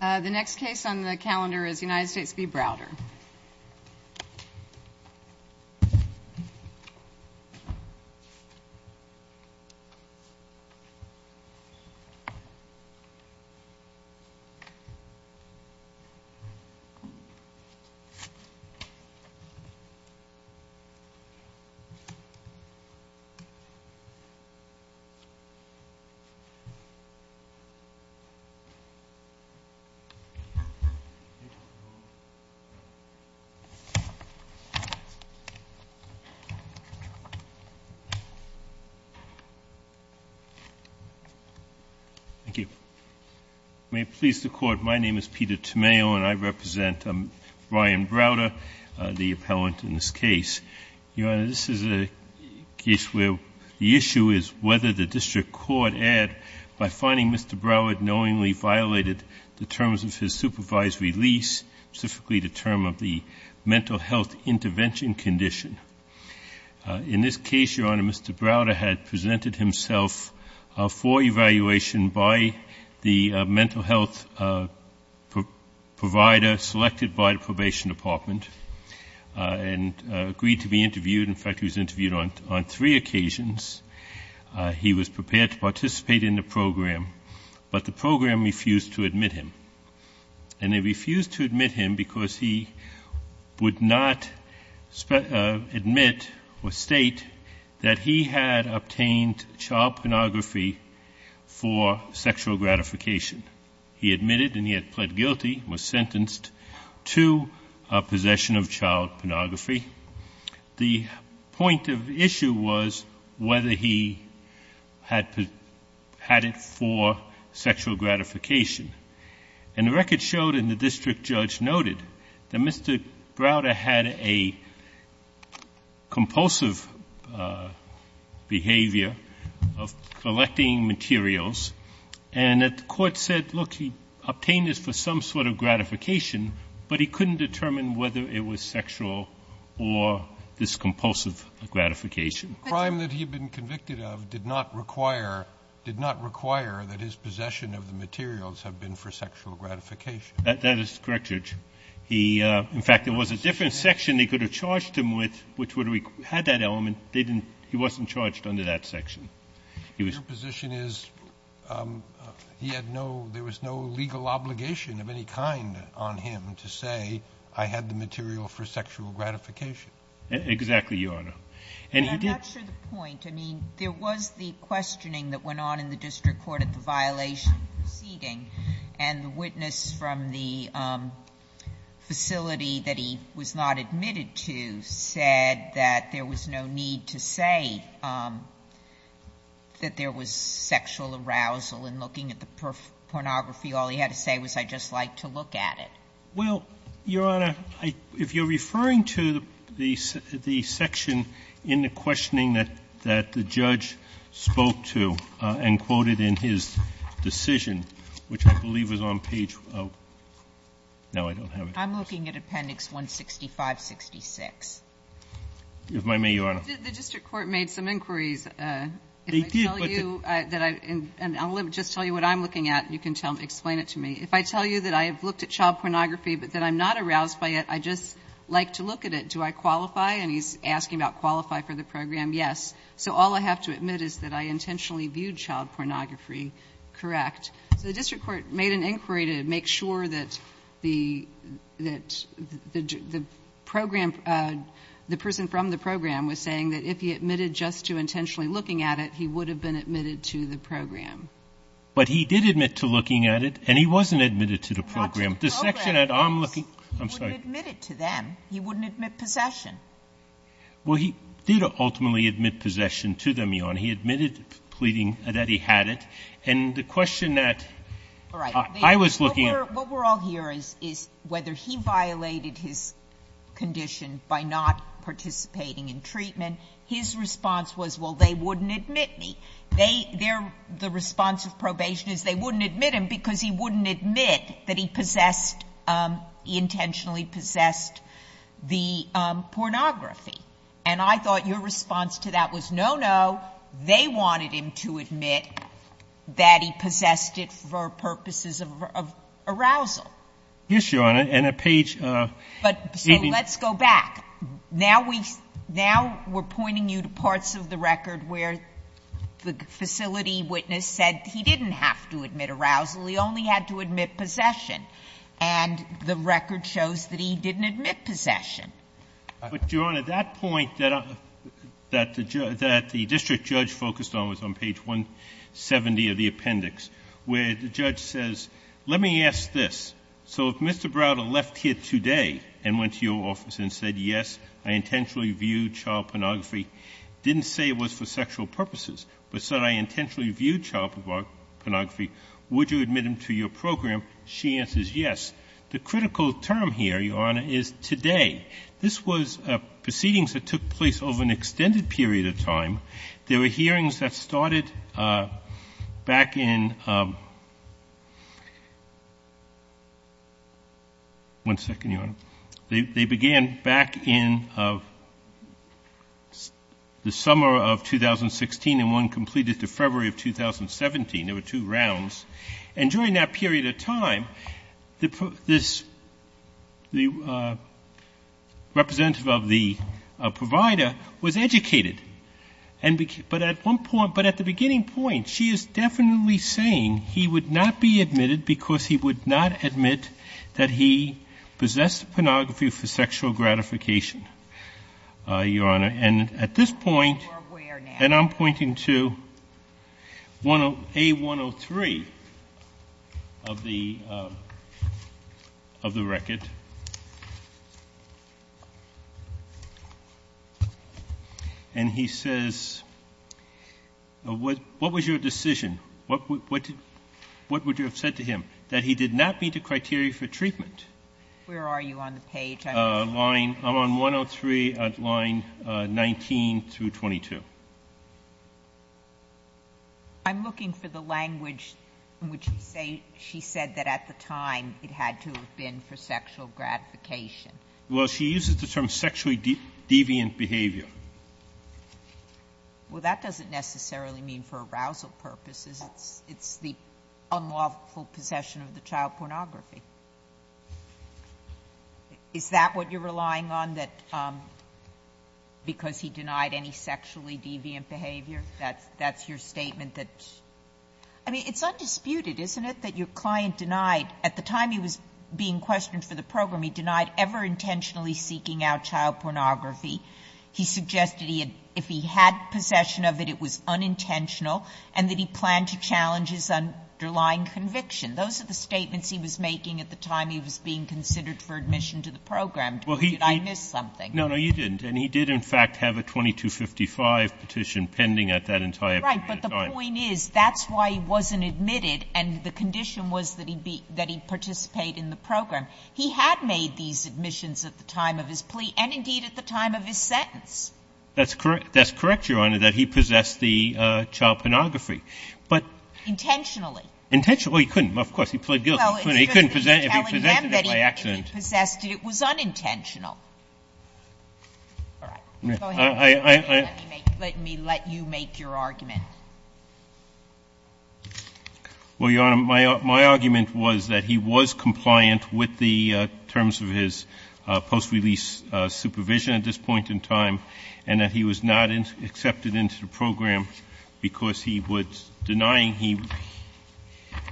The next case on the calendar is United States v. Browder. Thank you. May it please the Court, my name is Peter Tomeo and I represent Brian Browder, the appellant in this case. Your Honor, this is a case where the issue is whether the District violated the terms of his supervisory lease, specifically the term of the mental health intervention condition. In this case, Your Honor, Mr. Browder had presented himself for evaluation by the mental health provider selected by the Probation Department and agreed to be interviewed. In fact, he was interviewed on three occasions. He was prepared to participate in the program, but the program refused to admit him. And they refused to admit him because he would not admit or state that he had obtained child pornography for sexual gratification. He admitted and he had pled guilty, was sentenced to possession of child pornography. The point of the issue was whether he had had it for sexual gratification. And the record showed and the District Judge noted that Mr. Browder had a compulsive behavior of collecting materials and that the Court said, look, he obtained this for some sort of gratification, but he The crime that he had been convicted of did not require, did not require that his possession of the materials have been for sexual gratification. That is correct, Judge. He, in fact, there was a different section they could have charged him with, which would have had that element. They didn't. He wasn't charged under that section. Your position is he had no, there was no legal obligation of any kind on him to say I had the material for sexual gratification. Exactly, Your Honor. And he did. I'm not sure the point. I mean, there was the questioning that went on in the district court at the violation proceeding, and the witness from the facility that he was not admitted to said that there was no need to say that there was sexual arousal in looking at the pornography. All he had to say was, I'd just like to look at it. Well, Your Honor, if you're referring to the section in the questioning that the judge spoke to and quoted in his decision, which I believe is on page, no, I don't have it. I'm looking at Appendix 165-66. If I may, Your Honor. The district court made some inquiries. They did, but the If I tell you that I, and I'll just tell you what I'm looking at, and you can explain it to me, if I tell you that I have looked at child pornography, but that I'm not aroused by it, I'd just like to look at it. Do I qualify? And he's asking about qualify for the program. Yes. So all I have to admit is that I intentionally viewed child pornography correct. So the district court made an inquiry to make sure that the program, the person from the program was saying that if he admitted just to intentionally looking at it, he would have been admitted to the program. But he did admit to looking at it, and he wasn't admitted to the program. The section that I'm looking at, I'm sorry. He wouldn't admit it to them. He wouldn't admit possession. Well, he did ultimately admit possession to them, Your Honor. He admitted pleading that he had it. And the question that I was looking at All right. What we're all hearing is whether he violated his condition by not participating in treatment. His response was, well, they wouldn't admit me. The response of probation is they wouldn't admit him because he wouldn't admit that he possessed, intentionally possessed the pornography. And I thought your response to that was, no, no. They wanted him to admit that he possessed it for purposes of arousal. Yes, Your Honor. And a page of But so let's go back. Now we're pointing you to parts of the record where the facility witness said he didn't have to admit arousal. He only had to admit possession. And the record shows that he didn't admit possession. But, Your Honor, that point that the district judge focused on was on page 170 of the appendix, where the judge says, let me ask this. So if Mr. Browder left here today and went to your office and said, yes, I intentionally viewed child pornography, didn't say it was for sexual purposes, but said I intentionally viewed child pornography, would you admit him to your program? She answers yes. The critical term here, Your Honor, is today. This was proceedings that took place over an extended period of time. There were hearings that started back in One second, Your Honor. They began back in the summer of 2016, and one completed to February of 2017. There were two rounds. And during that period of time, this representative of the provider was educated. But at the beginning point, she is definitely saying he would not be admitted because he would not admit that he possessed pornography for sexual gratification, Your Honor. And at this point, and I'm pointing to A103 of the record. And he says, what was your decision? What would you have said to him? That he did not meet the criteria for treatment. Where are you on the page? I'm on 103 at line 19 through 22. I'm looking for the language in which she said that at the time, it had to have been for sexual gratification. Well, she uses the term sexually deviant behavior. Well, that doesn't necessarily mean for arousal purposes. It's the unlawful possession of the child pornography. Is that what you're relying on, that because he denied any sexually deviant behavior? That's your statement that's undisputed, isn't it, that your client denied, at the time he was being questioned for the program, he denied ever intentionally seeking out child pornography. He suggested he had, if he had possession of it, it was unintentional, and that he planned to challenge his underlying conviction. Those are the statements he was making at the time he was being considered for admission to the program. Did I miss something? No, no, you didn't. And he did, in fact, have a 2255 petition pending at that entire point in time. Right, but the point is, that's why he wasn't admitted, and the condition was that he participate in the program. He had made these admissions at the time of his plea and, indeed, at the time of his sentence. That's correct, Your Honor, that he possessed the child pornography. But he couldn't. Of course, he pled guilty. He couldn't possess it if he possessed it by accident. It was unintentional. All right. Go ahead. Let me let you make your argument. Well, Your Honor, my argument was that he was compliant with the terms of his post-release supervision at this point in time, and that he was not accepted into the program because he was denying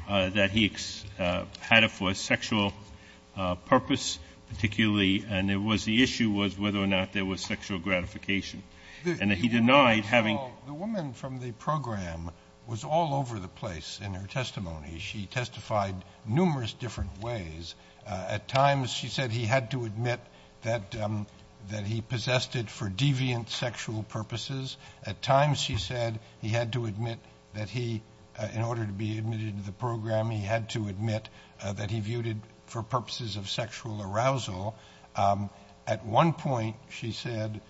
that he had it for a sexual purpose, particularly, and the issue was whether or not there was sexual gratification. And that he denied having the The woman from the program was all over the place in her testimony. She testified numerous different ways. At times, she said he had to admit that he possessed it for deviant sexual purposes. At times, she said he had to admit that he, in order to be admitted into the program, he had to admit that he viewed it for purposes of sexual arousal. At one point, she said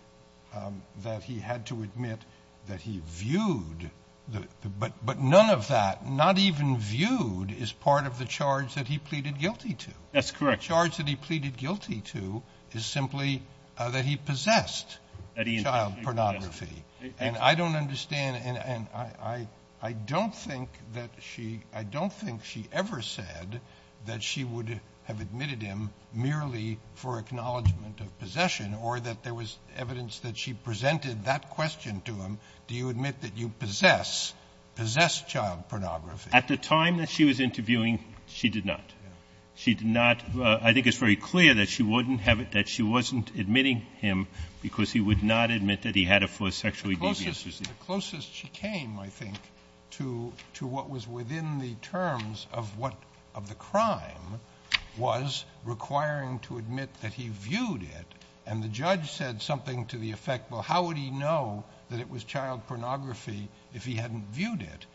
that he had to admit that he viewed, but none of that, not even viewed, is part of the charge that he pleaded guilty to. That's correct. The charge that he pleaded guilty to is simply that he possessed child pornography. And I don't understand, and I don't think that she, I don't think she ever said that she would have admitted him merely for acknowledgment of possession or that there was evidence that she presented that question to him. Do you admit that you possess, possess child pornography? At the time that she was interviewing, she did not. She did not. I think it's very clear that she wouldn't have it, that she wasn't admitting him because he would not admit that he had it for a sexually deviant reason. The closest she came, I think, to what was within the terms of what, of the crime, was requiring to admit that he viewed it. And the judge said something to the effect, well, how would he know that it was child pornography if he hadn't viewed it?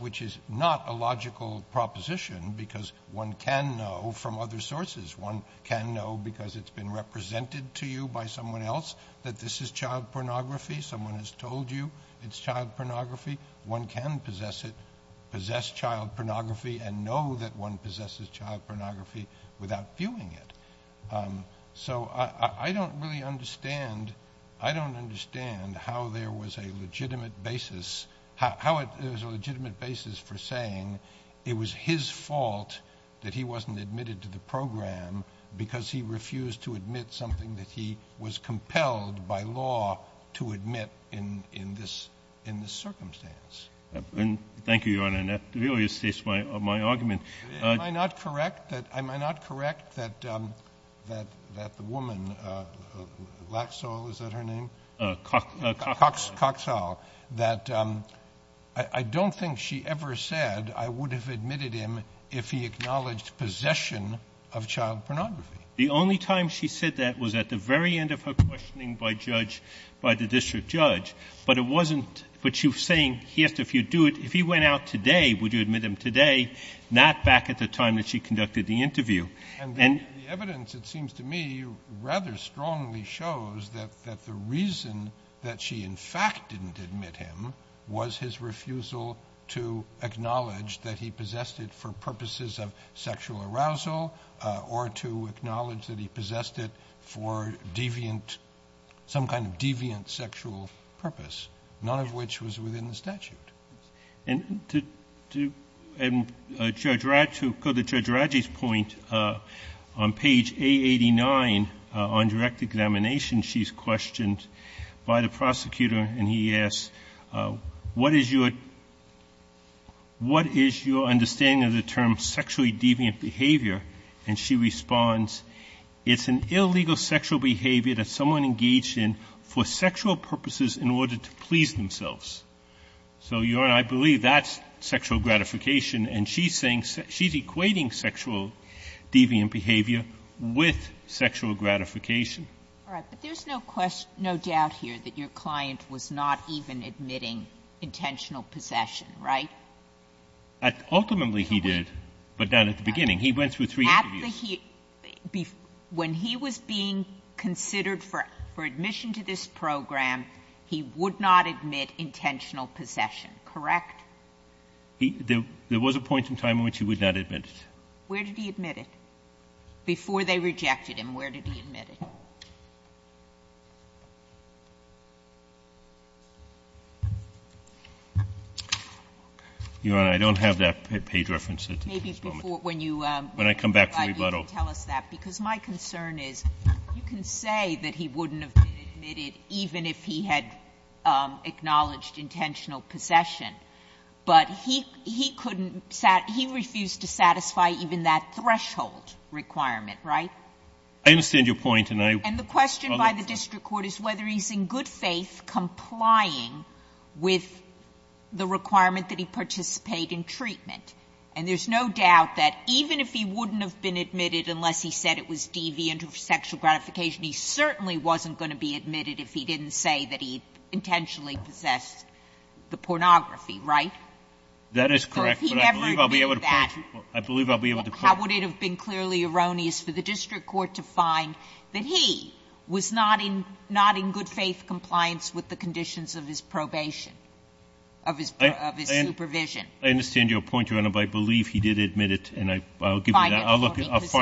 Which is not a logical proposition because one can know from other sources. One can know because it's been represented to you by someone else that this is child pornography. Someone has told you it's child pornography. One can possess it, possess child pornography, and know that one possesses child pornography without viewing it. So I don't really understand, I don't understand how there was a legitimate basis, how it was a legitimate basis for saying it was his fault that he wasn't admitted to the program because he refused to admit something that he was compelled by law to admit in this circumstance. Thank you, Your Honor. And that really states my argument. Am I not correct that the woman, Laxall, is that her name? Coxall. Coxall. That I don't think she ever said I would have admitted him if he acknowledged possession of child pornography. The only time she said that was at the very end of her questioning by judge, by the district judge. But it wasn't, but you're saying, yes, if you do it, if he went out today, would you admit him today, not back at the time that she conducted the interview? And the evidence, it seems to me, rather strongly shows that the reason that she in fact didn't admit him was his refusal to acknowledge that he possessed it for purposes of sexual arousal or to acknowledge that he possessed it for deviant, some kind of deviant sexual purpose, none of which was within the statute. And to go to Judge Radji's point, on page A89 on direct examination, she's questioned by the prosecutor and he asks, what is your understanding of the term sexually deviant behavior? And she responds, it's an illegal sexual behavior that someone engaged in for sexual purposes in order to please themselves. So, Your Honor, I believe that's sexual gratification, and she's saying, she's equating sexual deviant behavior with sexual gratification. All right. But there's no doubt here that your client was not even admitting intentional possession, right? Ultimately, he did, but not at the beginning. He went through three interviews. When he was being considered for admission to this program, he would not admit intentional possession, correct? There was a point in time in which he would not admit it. Where did he admit it? Before they rejected him, where did he admit it? Your Honor, I don't have that page reference at this moment. Maybe before, when you come back for rebuttal. When I come back for rebuttal. Because my concern is, you can say that he wouldn't have been admitted even if he had acknowledged intentional possession, but he couldn't satisfy, he refused to satisfy even that threshold requirement, right? I understand your point. And the question by the district court is whether he's in good faith complying with the requirement that he participate in treatment. And there's no doubt that even if he wouldn't have been admitted unless he said it was deviant or sexual gratification, he certainly wasn't going to be admitted if he didn't say that he intentionally possessed the pornography, right? That is correct. So if he never did that, how would it have been clearly erroneous for the district court to find that he was not in good faith compliance with the conditions of his probation, of his supervision? I understand your point, Your Honor, but I believe he did admit it, and I'll give you that. If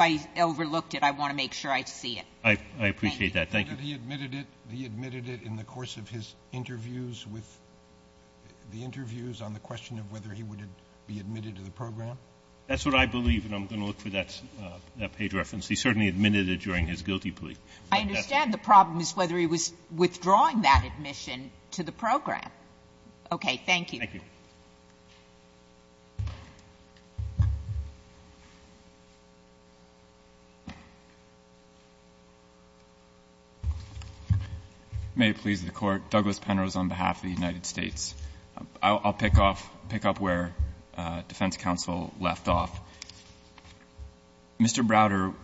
I overlooked it, I want to make sure I see it. I appreciate that. Thank you. He admitted it. He admitted it in the course of his interviews with the interviews on the question of whether he would be admitted to the program? That's what I believe, and I'm going to look for that page reference. He certainly admitted it during his guilty plea. I understand the problem is whether he was withdrawing that admission to the program. Okay. Thank you. Thank you. May it please the Court. Douglas Penrose on behalf of the United States. I'll pick up where defense counsel left off. Mr. Browder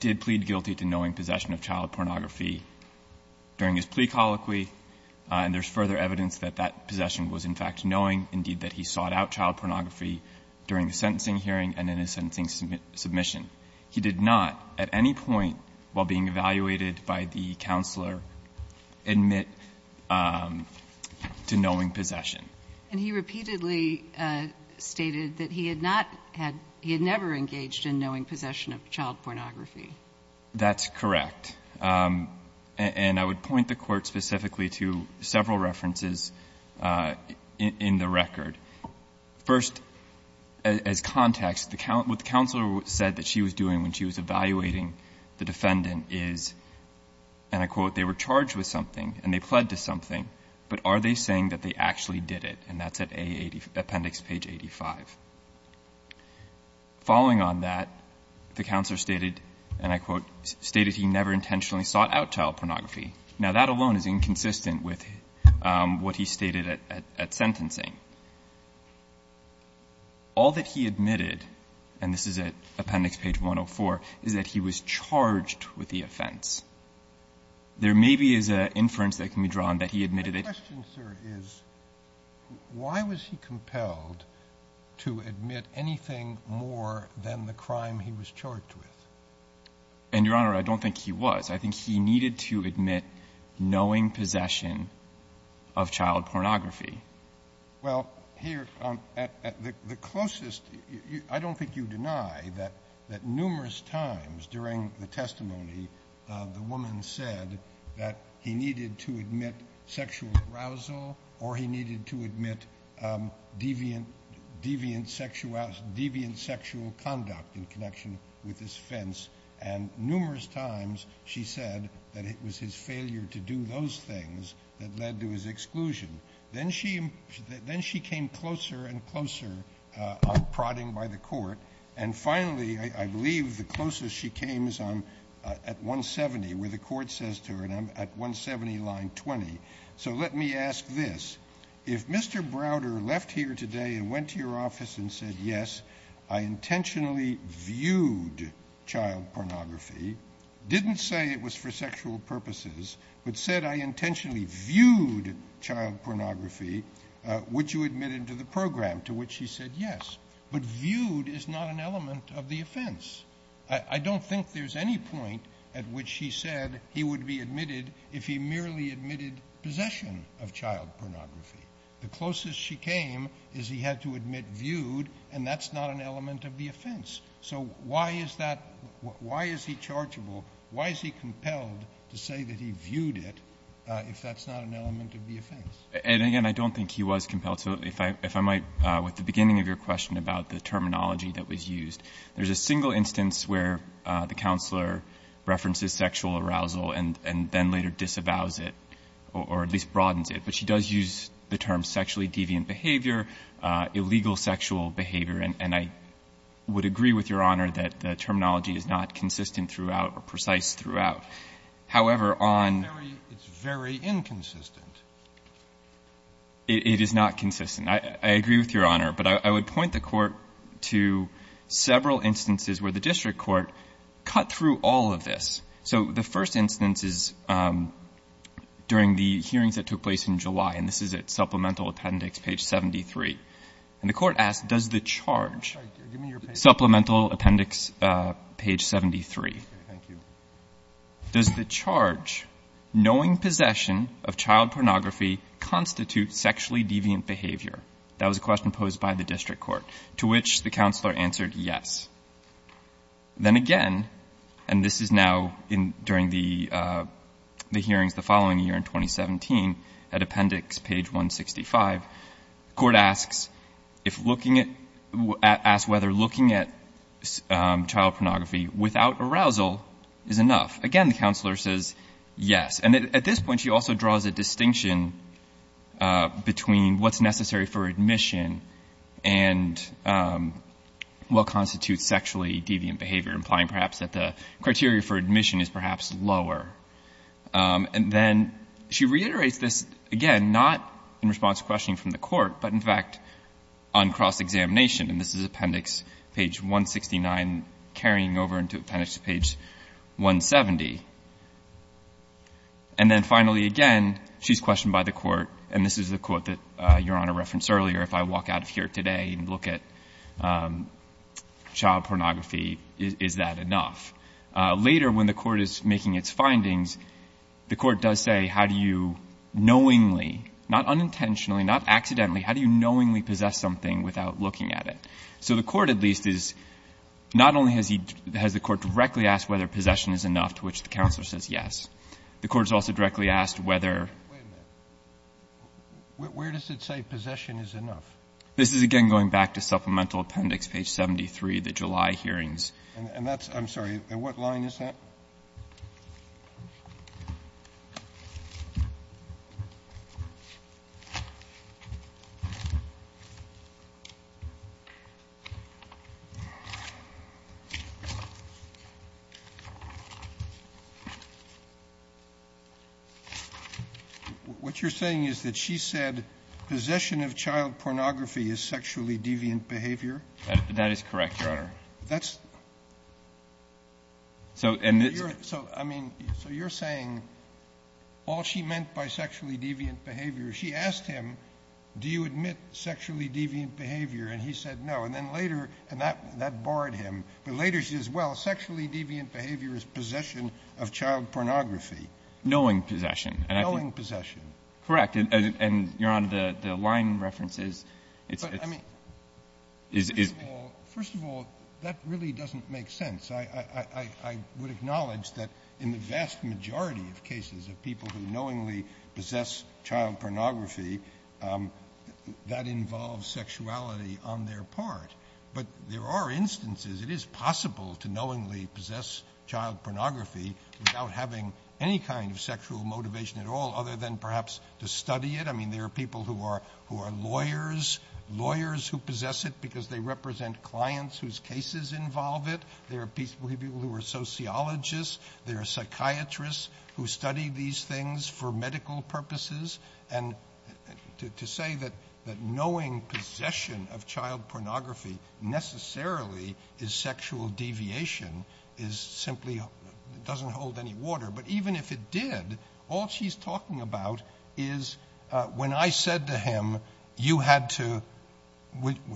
did plead guilty to knowing possession of child pornography during his plea colloquy, and there's further evidence that that possession was, in fact, knowing, indeed, that he sought out child pornography during the sentencing hearing and in his sentencing submission. He did not, at any point while being evaluated by the counselor, admit to knowing possession. And he repeatedly stated that he had not had he had never engaged in knowing possession of child pornography. That's correct. And I would point the Court specifically to several references in the record. First, as context, what the counselor said that she was doing when she was evaluating the defendant is, and I quote, they were charged with something and they pled to something, but are they saying that they actually did it? And that's at Appendix page 85. Following on that, the counselor stated, and I quote, stated he never intentionally sought out child pornography. Now, that alone is inconsistent with what he stated at sentencing. All that he admitted, and this is at Appendix page 104, is that he was charged with the offense. There maybe is an inference that can be drawn that he admitted it. My question, sir, is why was he compelled to admit anything more than the crime he was charged with? And, Your Honor, I don't think he was. I think he needed to admit knowing possession of child pornography. Well, here, at the closest, I don't think you deny that numerous times during the arousal, or he needed to admit deviant sexual conduct in connection with his offense, and numerous times she said that it was his failure to do those things that led to his exclusion. Then she came closer and closer, prodding by the court, and finally, I believe, the closest she came is at 170, where the court says to her, and I'm at 170, line 20. So let me ask this. If Mr. Browder left here today and went to your office and said, yes, I intentionally viewed child pornography, didn't say it was for sexual purposes, but said I intentionally viewed child pornography, would you admit him to the program, to which he said yes? I don't think there's any point at which he said he would be admitted if he merely admitted possession of child pornography. The closest she came is he had to admit viewed, and that's not an element of the offense. So why is that – why is he chargeable? Why is he compelled to say that he viewed it if that's not an element of the offense? And, again, I don't think he was compelled to. If I might, with the beginning of your question about the terminology that was used, there's a single instance where the counselor references sexual arousal and then later disavows it, or at least broadens it, but she does use the term sexually deviant behavior, illegal sexual behavior, and I would agree with Your Honor that the terminology is not consistent throughout or precise throughout. However, on – It's very inconsistent. It is not consistent. I agree with Your Honor, but I would point the Court to several instances where the district court cut through all of this. So the first instance is during the hearings that took place in July, and this is at Supplemental Appendix, page 73. And the Court asked, does the charge – Sorry. Give me your paper. Supplemental Appendix, page 73. Okay. Thank you. Does the charge, knowing possession of child pornography, constitute sexually deviant behavior? That was a question posed by the district court, to which the counselor answered yes. Then again, and this is now during the hearings the following year, in 2017, at Appendix, page 165, the Court asks if looking at – asks whether looking at child pornography is enough. Again, the counselor says yes. And at this point, she also draws a distinction between what's necessary for admission and what constitutes sexually deviant behavior, implying perhaps that the criteria for admission is perhaps lower. And then she reiterates this, again, not in response to questioning from the Court, but in fact on cross-examination, and this is Appendix, page 169, carrying over into Appendix, page 170. And then finally, again, she's questioned by the Court, and this is the Court that Your Honor referenced earlier. If I walk out of here today and look at child pornography, is that enough? Later, when the Court is making its findings, the Court does say, how do you knowingly – not unintentionally, not accidentally – how do you knowingly possess something without looking at it? So the Court, at least, is not only has he – has the Court directly asked whether possession is enough, to which the counselor says yes, the Court has also directly asked whether – Breyer, where does it say possession is enough? This is, again, going back to Supplemental Appendix, page 73, the July hearings. And that's – I'm sorry, what line is that? What you're saying is that she said possession of child pornography is sexually deviant behavior? That's – I mean, so you're saying all she meant by sexually deviant behavior, she asked him, do you admit sexually deviant behavior? And he said no. And then later – and that barred him. But later she says, well, sexually deviant behavior is possession of child pornography. Knowing possession. Knowing possession. Correct. And Your Honor, the line reference is – But, I mean, first of all, that really doesn't make sense. I would acknowledge that in the vast majority of cases of people who knowingly possess child pornography, that involves sexuality on their part. But there are instances, it is possible to knowingly possess child pornography without having any kind of sexual motivation at all, other than perhaps to study it. I mean, there are people who are lawyers, lawyers who possess it because they represent clients whose cases involve it. There are people who are sociologists. There are psychiatrists who study these things for medical purposes. And to say that knowing possession of child pornography necessarily is sexual deviation is simply – doesn't hold any water. But even if it did, all she's talking about is when I said to him, you had to –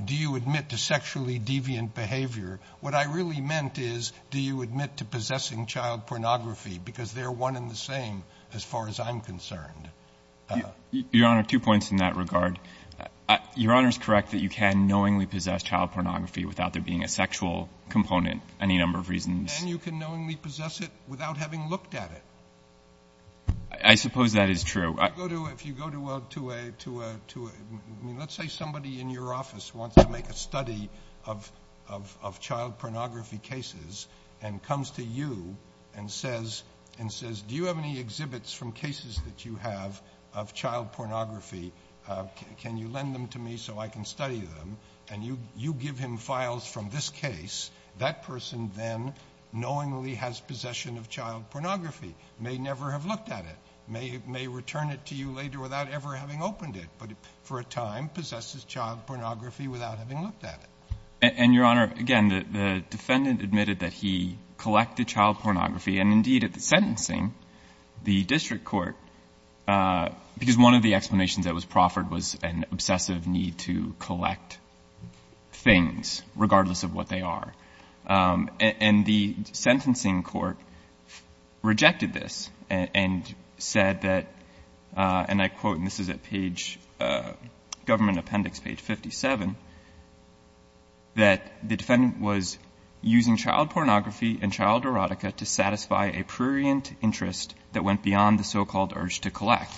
do you admit to sexually deviant behavior? What I really meant is, do you admit to possessing child pornography? Because they're one and the same as far as I'm concerned. Your Honor, two points in that regard. Your Honor is correct that you can knowingly possess child pornography without there being a sexual component, any number of reasons. And you can knowingly possess it without having looked at it. I suppose that is true. If you go to a – I mean, let's say somebody in your office wants to make a study of child pornography cases and comes to you and says, do you have any exhibits from cases that you have of child pornography? Can you lend them to me so I can study them? And you give him files from this case. That person then knowingly has possession of child pornography, may never have looked at it, may return it to you later without ever having opened it, but for a time possesses child pornography without having looked at it. And, Your Honor, again, the defendant admitted that he collected child pornography and, indeed, at the sentencing, the district court, because one of the explanations that was proffered was an obsessive need to collect things regardless of what they are, and the sentencing court rejected this and said that, and I quote, and this is at page – Government Appendix, page 57, that the defendant was using child pornography and child erotica to satisfy a prurient interest that went beyond the so-called urge to collect.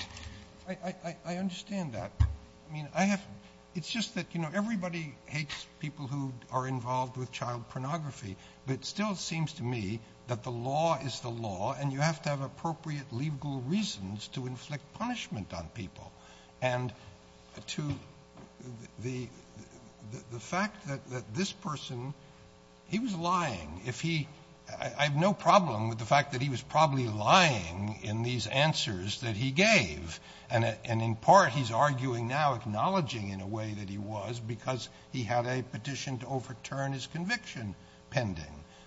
Sotomayor, I understand that. I mean, I have – it's just that, you know, everybody hates people who are involved with child pornography, but it still seems to me that the law is the law and you have to have appropriate legal reasons to inflict punishment on people. And to the fact that this person, he was lying. If he – I have no problem with the fact that he was probably lying in these answers that he gave, and in part he's arguing now, acknowledging in a way that he was, because he had a petition to overturn his conviction pending.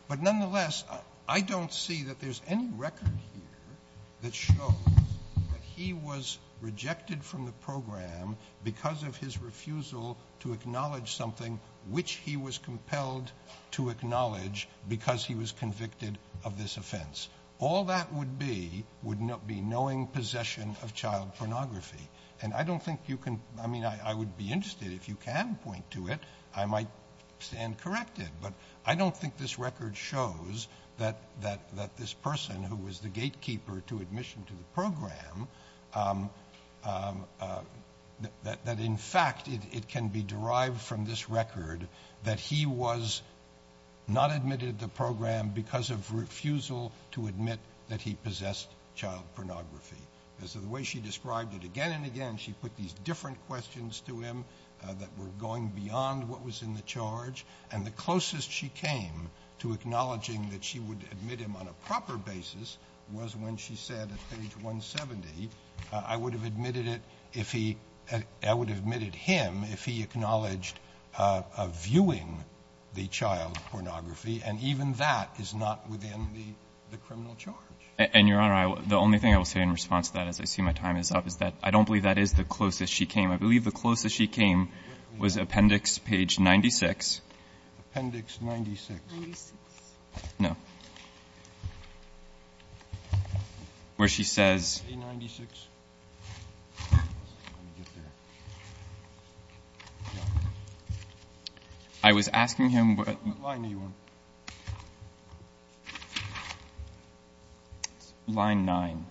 But nonetheless, I don't see that there's any record here that shows that he was rejected from the program because of his refusal to acknowledge something which he was compelled to acknowledge because he was convicted of this offense. All that would be would be knowing possession of child pornography. And I don't think you can – I mean, I would be interested, if you can point to it, I might stand corrected. But I don't think this record shows that this person, who was the gatekeeper to admission to the program, that in fact it can be derived from this record that he was not admitted to the program because of refusal to admit that he possessed child pornography. Because of the way she described it again and again, she put these different questions to him that were going beyond what was in the charge, and the closest she came to acknowledging that she would admit him on a proper basis was when she said at page 170, I would have admitted it if he – I would have admitted him if he acknowledged viewing the child pornography, and even that is not within the criminal charge. And, Your Honor, the only thing I will say in response to that, as I see my time is up, is that I don't believe that is the closest she came. I believe the closest she came was Appendix page 96. Appendix 96. 96. No. Where she says – 96. I was asking him what – Line A1. Line 9.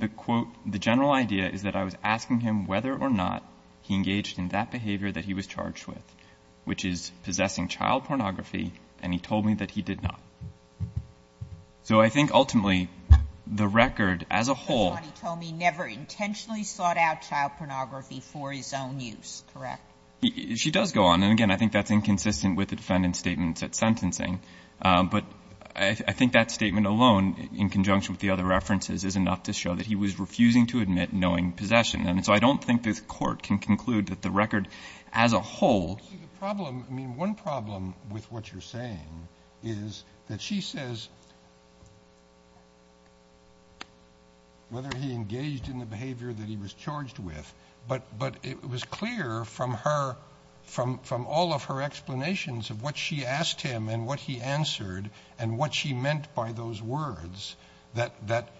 The quote – the general idea is that I was asking him whether or not he engaged in that behavior that he was charged with, which is possessing child pornography, and he told me that he did not. So I think ultimately the record as a whole – He told me he never intentionally sought out child pornography for his own use, correct? She does go on. And, again, I think that's inconsistent with the defendant's statements at sentencing. But I think that statement alone, in conjunction with the other references, is enough to show that he was refusing to admit knowing possession. And so I don't think this Court can conclude that the record as a whole – See, the problem – I mean, one problem with what you're saying is that she says whether he engaged in the behavior that he was charged with, but it was clear from all of her explanations of what she asked him and what he answered and what she meant by those words that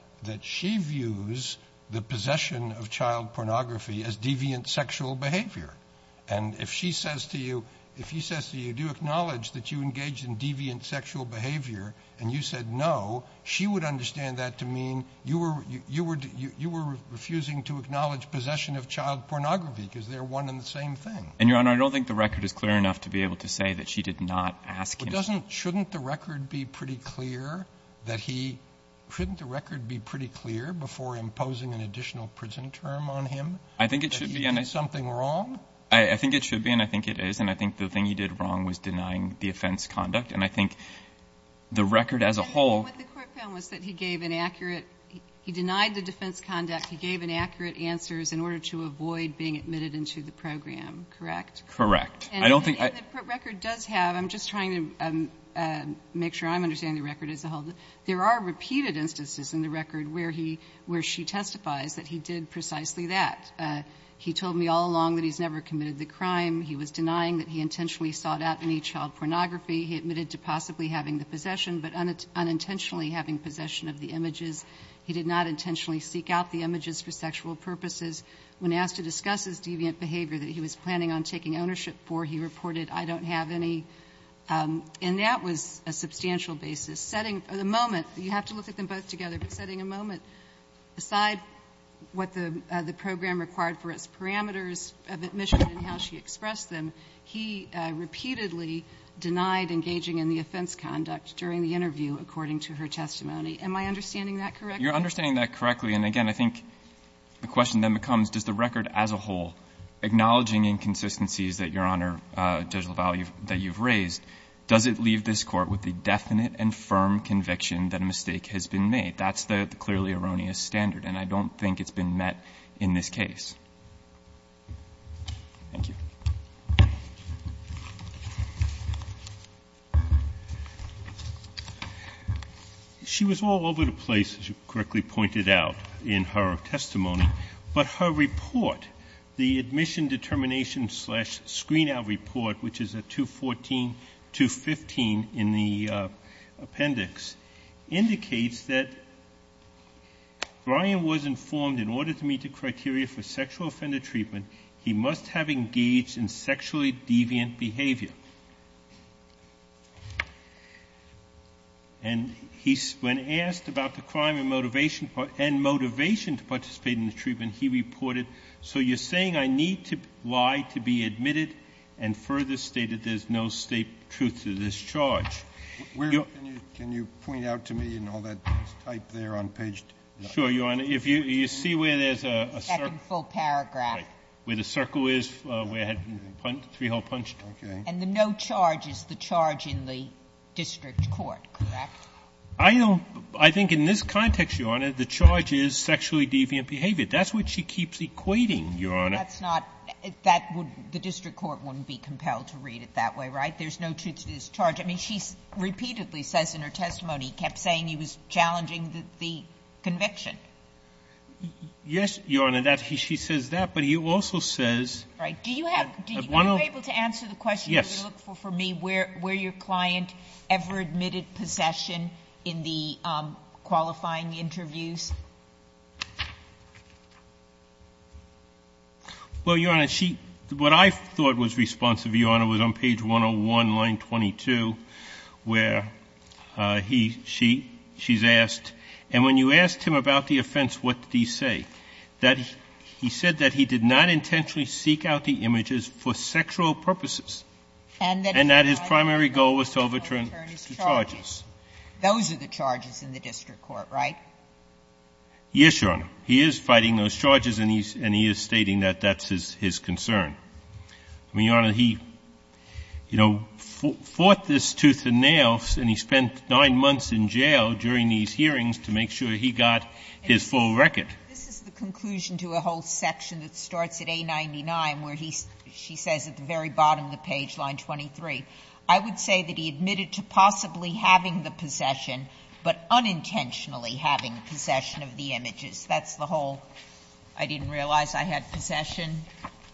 she views the possession of child pornography as deviant sexual behavior. And if she says to you – if he says to you, do you acknowledge that you engaged in deviant sexual behavior, and you said no, she would understand that to mean you were refusing to acknowledge possession of child pornography because they're one and the same thing. And, Your Honor, I don't think the record is clear enough to be able to say that she did not ask him. But doesn't – shouldn't the record be pretty clear that he – shouldn't the record be pretty clear before imposing an additional prison term on him that he did something wrong? I think it should be, and I think it is. And I think the thing he did wrong was denying the offense conduct. And I think the record as a whole – What the Court found was that he gave an accurate – he denied the defense conduct. He gave an accurate answers in order to avoid being admitted into the program. Correct? Correct. I don't think I – And the record does have – I'm just trying to make sure I'm understanding the record as a whole. There are repeated instances in the record where he – where she testifies that he did precisely that. He told me all along that he's never committed the crime. He was denying that he intentionally sought out any child pornography. He admitted to possibly having the possession, but unintentionally having possession of the images. He did not intentionally seek out the images for sexual purposes. When asked to discuss his deviant behavior that he was planning on taking ownership for, he reported, I don't have any. And that was a substantial basis. Setting the moment – you have to look at them both together, but setting a moment aside what the program required for its parameters of admission and how she expressed them, he repeatedly denied engaging in the offense conduct during the interview, according to her testimony. Am I understanding that correctly? You're understanding that correctly. And, again, I think the question then becomes, does the record as a whole, acknowledging inconsistencies that, Your Honor, Judge LaValle, that you've raised, does it leave this Court with the definite and firm conviction that a mistake has been made? That's the clearly erroneous standard, and I don't think it's been met in this case. Thank you. She was all over the place, as you correctly pointed out in her testimony. But her report, the admission determination screen-out report, which is at 214-215 in the appendix, indicates that Brian was informed in order to meet the criteria for sexual deviant behavior, and he, when asked about the crime and motivation to participate in the treatment, he reported, so you're saying I need to lie to be admitted and further state that there's no state truth to this charge. Can you point out to me in all that type there on page 2? Sure, Your Honor. If you see where there's a circle. The second full paragraph. Right, where the circle is, where it had three-hole punched. Okay. And the no charge is the charge in the district court, correct? I don't – I think in this context, Your Honor, the charge is sexually deviant behavior. That's what she keeps equating, Your Honor. That's not – that would – the district court wouldn't be compelled to read it that way, right? There's no truth to this charge. I mean, she repeatedly says in her testimony, kept saying he was challenging the conviction. Yes, Your Honor, that – she says that, but he also says – Right. Do you have – are you able to answer the question you're going to look for for me, where your client ever admitted possession in the qualifying interviews? Well, Your Honor, she – what I thought was responsive, Your Honor, was on page 101, line 22, where he – she – she's asked, and when you asked him about the offense, what did he say, that he said that he did not intentionally seek out the images for sexual purposes, and that his primary goal was to overturn his charges. Those are the charges in the district court, right? Yes, Your Honor. He is fighting those charges, and he's – and he is stating that that's his concern. I mean, Your Honor, he, you know, fought this tooth and nail, and he spent nine months in jail during these hearings to make sure he got his full record. This is the conclusion to a whole section that starts at A99, where he – she says at the very bottom of the page, line 23, I would say that he admitted to possibly having the possession, but unintentionally having possession of the images. That's the whole – I didn't realize I had possession.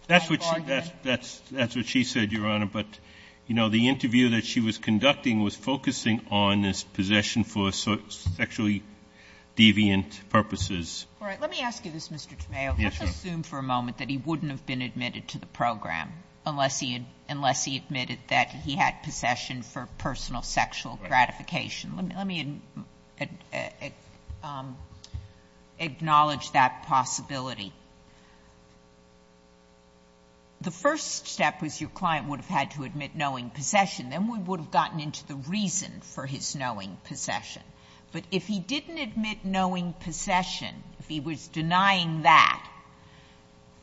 That's what she – that's what she said, Your Honor. But, you know, the interview that she was conducting was focusing on his possession for sexually deviant purposes. All right. Let me ask you this, Mr. Tomeo. Yes, Your Honor. Let's assume for a moment that he wouldn't have been admitted to the program unless he – unless he admitted that he had possession for personal sexual gratification. Let me – let me acknowledge that possibility. The first step was your client would have had to admit knowing possession. Then we would have gotten into the reason for his knowing possession. But if he didn't admit knowing possession, if he was denying that,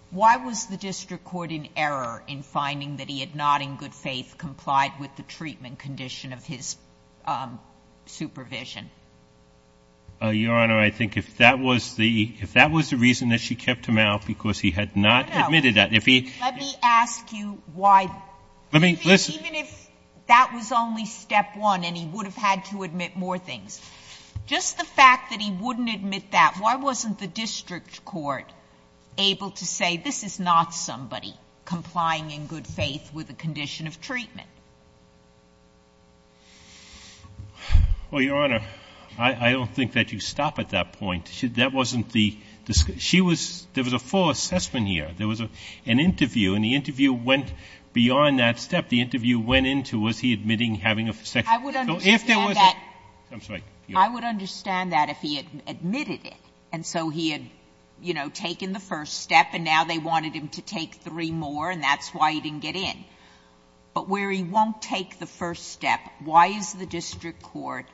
why was the district court in error in finding that he had not in good faith complied with the treatment condition of his supervision? Your Honor, I think if that was the – if that was the reason that she kept him out because he had not admitted that, if he – No, no. Let me ask you why – Let me – listen. Even if that was only step one and he would have had to admit more things, just the fact that he wouldn't admit that, why wasn't the district court able to say, this is not somebody complying in good faith with the condition of treatment? Well, Your Honor, I don't think that you stop at that point. That wasn't the – she was – there was a full assessment here. There was an interview, and the interview went beyond that step. The interview went into was he admitting having a sexual – I would understand that. I'm sorry. I would understand that if he had admitted it. And so he had, you know, taken the first step, and now they wanted him to take three more, and that's why he didn't get in. But where he won't take the first step, why is the district court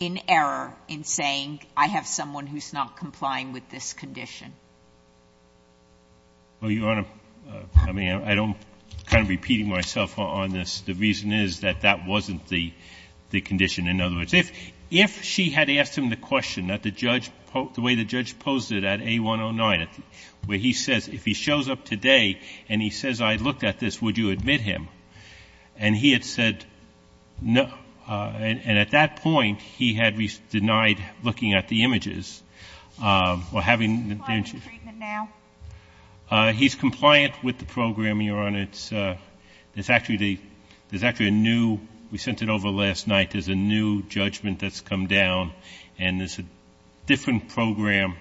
in error in saying I have someone who's not complying with this condition? Well, Your Honor, I mean, I don't – I'm kind of repeating myself on this. The reason is that that wasn't the condition. In other words, if she had asked him the question that the judge – the way the judge posed it at A109, where he says if he shows up today and he says I looked at this, would you admit him? And he had said no. And at that point, he had denied looking at the images or having the – Is he complying with the treatment now? He's compliant with the program, Your Honor. It's – there's actually a new – we sent it over last night. There's a new judgment that's come down. And there's a different program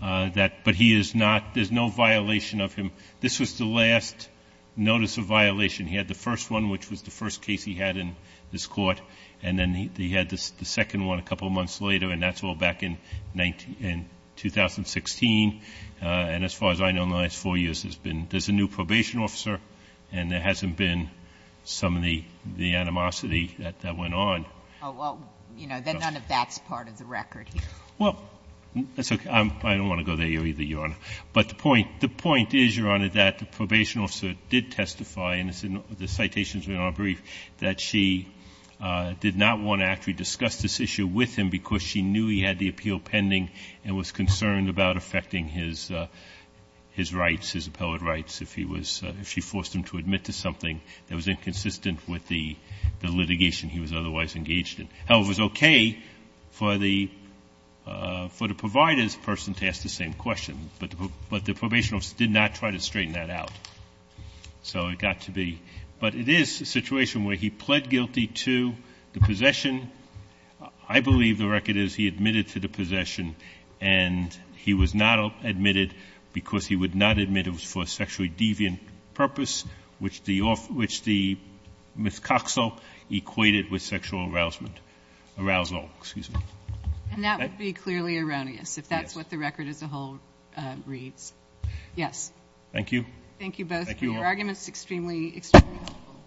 that – but he is not – there's no violation of him. This was the last notice of violation. He had the first one, which was the first case he had in this court. And then he had the second one a couple of months later, and that's all back in 2016. And as far as I know, in the last four years, there's been – there's a new probation officer, and there hasn't been some of the animosity that went on. Oh, well, you know, then none of that's part of the record here. Well, that's okay. I don't want to go there either, Your Honor. But the point – the point is, Your Honor, that the probation officer did testify in the citations in our brief that she did not want to actually discuss this issue with him because she knew he had the appeal pending and was concerned about affecting his rights, his appellate rights, if he was – if she forced him to admit to something that was inconsistent with the litigation he was otherwise engaged in. However, it was okay for the – for the provider's person to ask the same question, but the – but the probation officer did not try to straighten that out. So it got to be – but it is a situation where he pled guilty to the possession. I believe the record is he admitted to the possession, and he was not admitted because he would not admit it was for a sexually deviant purpose, which the – which the Ms. Coxall equated with sexual arousal. Excuse me. And that would be clearly erroneous, if that's what the record as a whole reads. Yes. Thank you. Thank you both for your arguments. Thank you all. It's extremely helpful.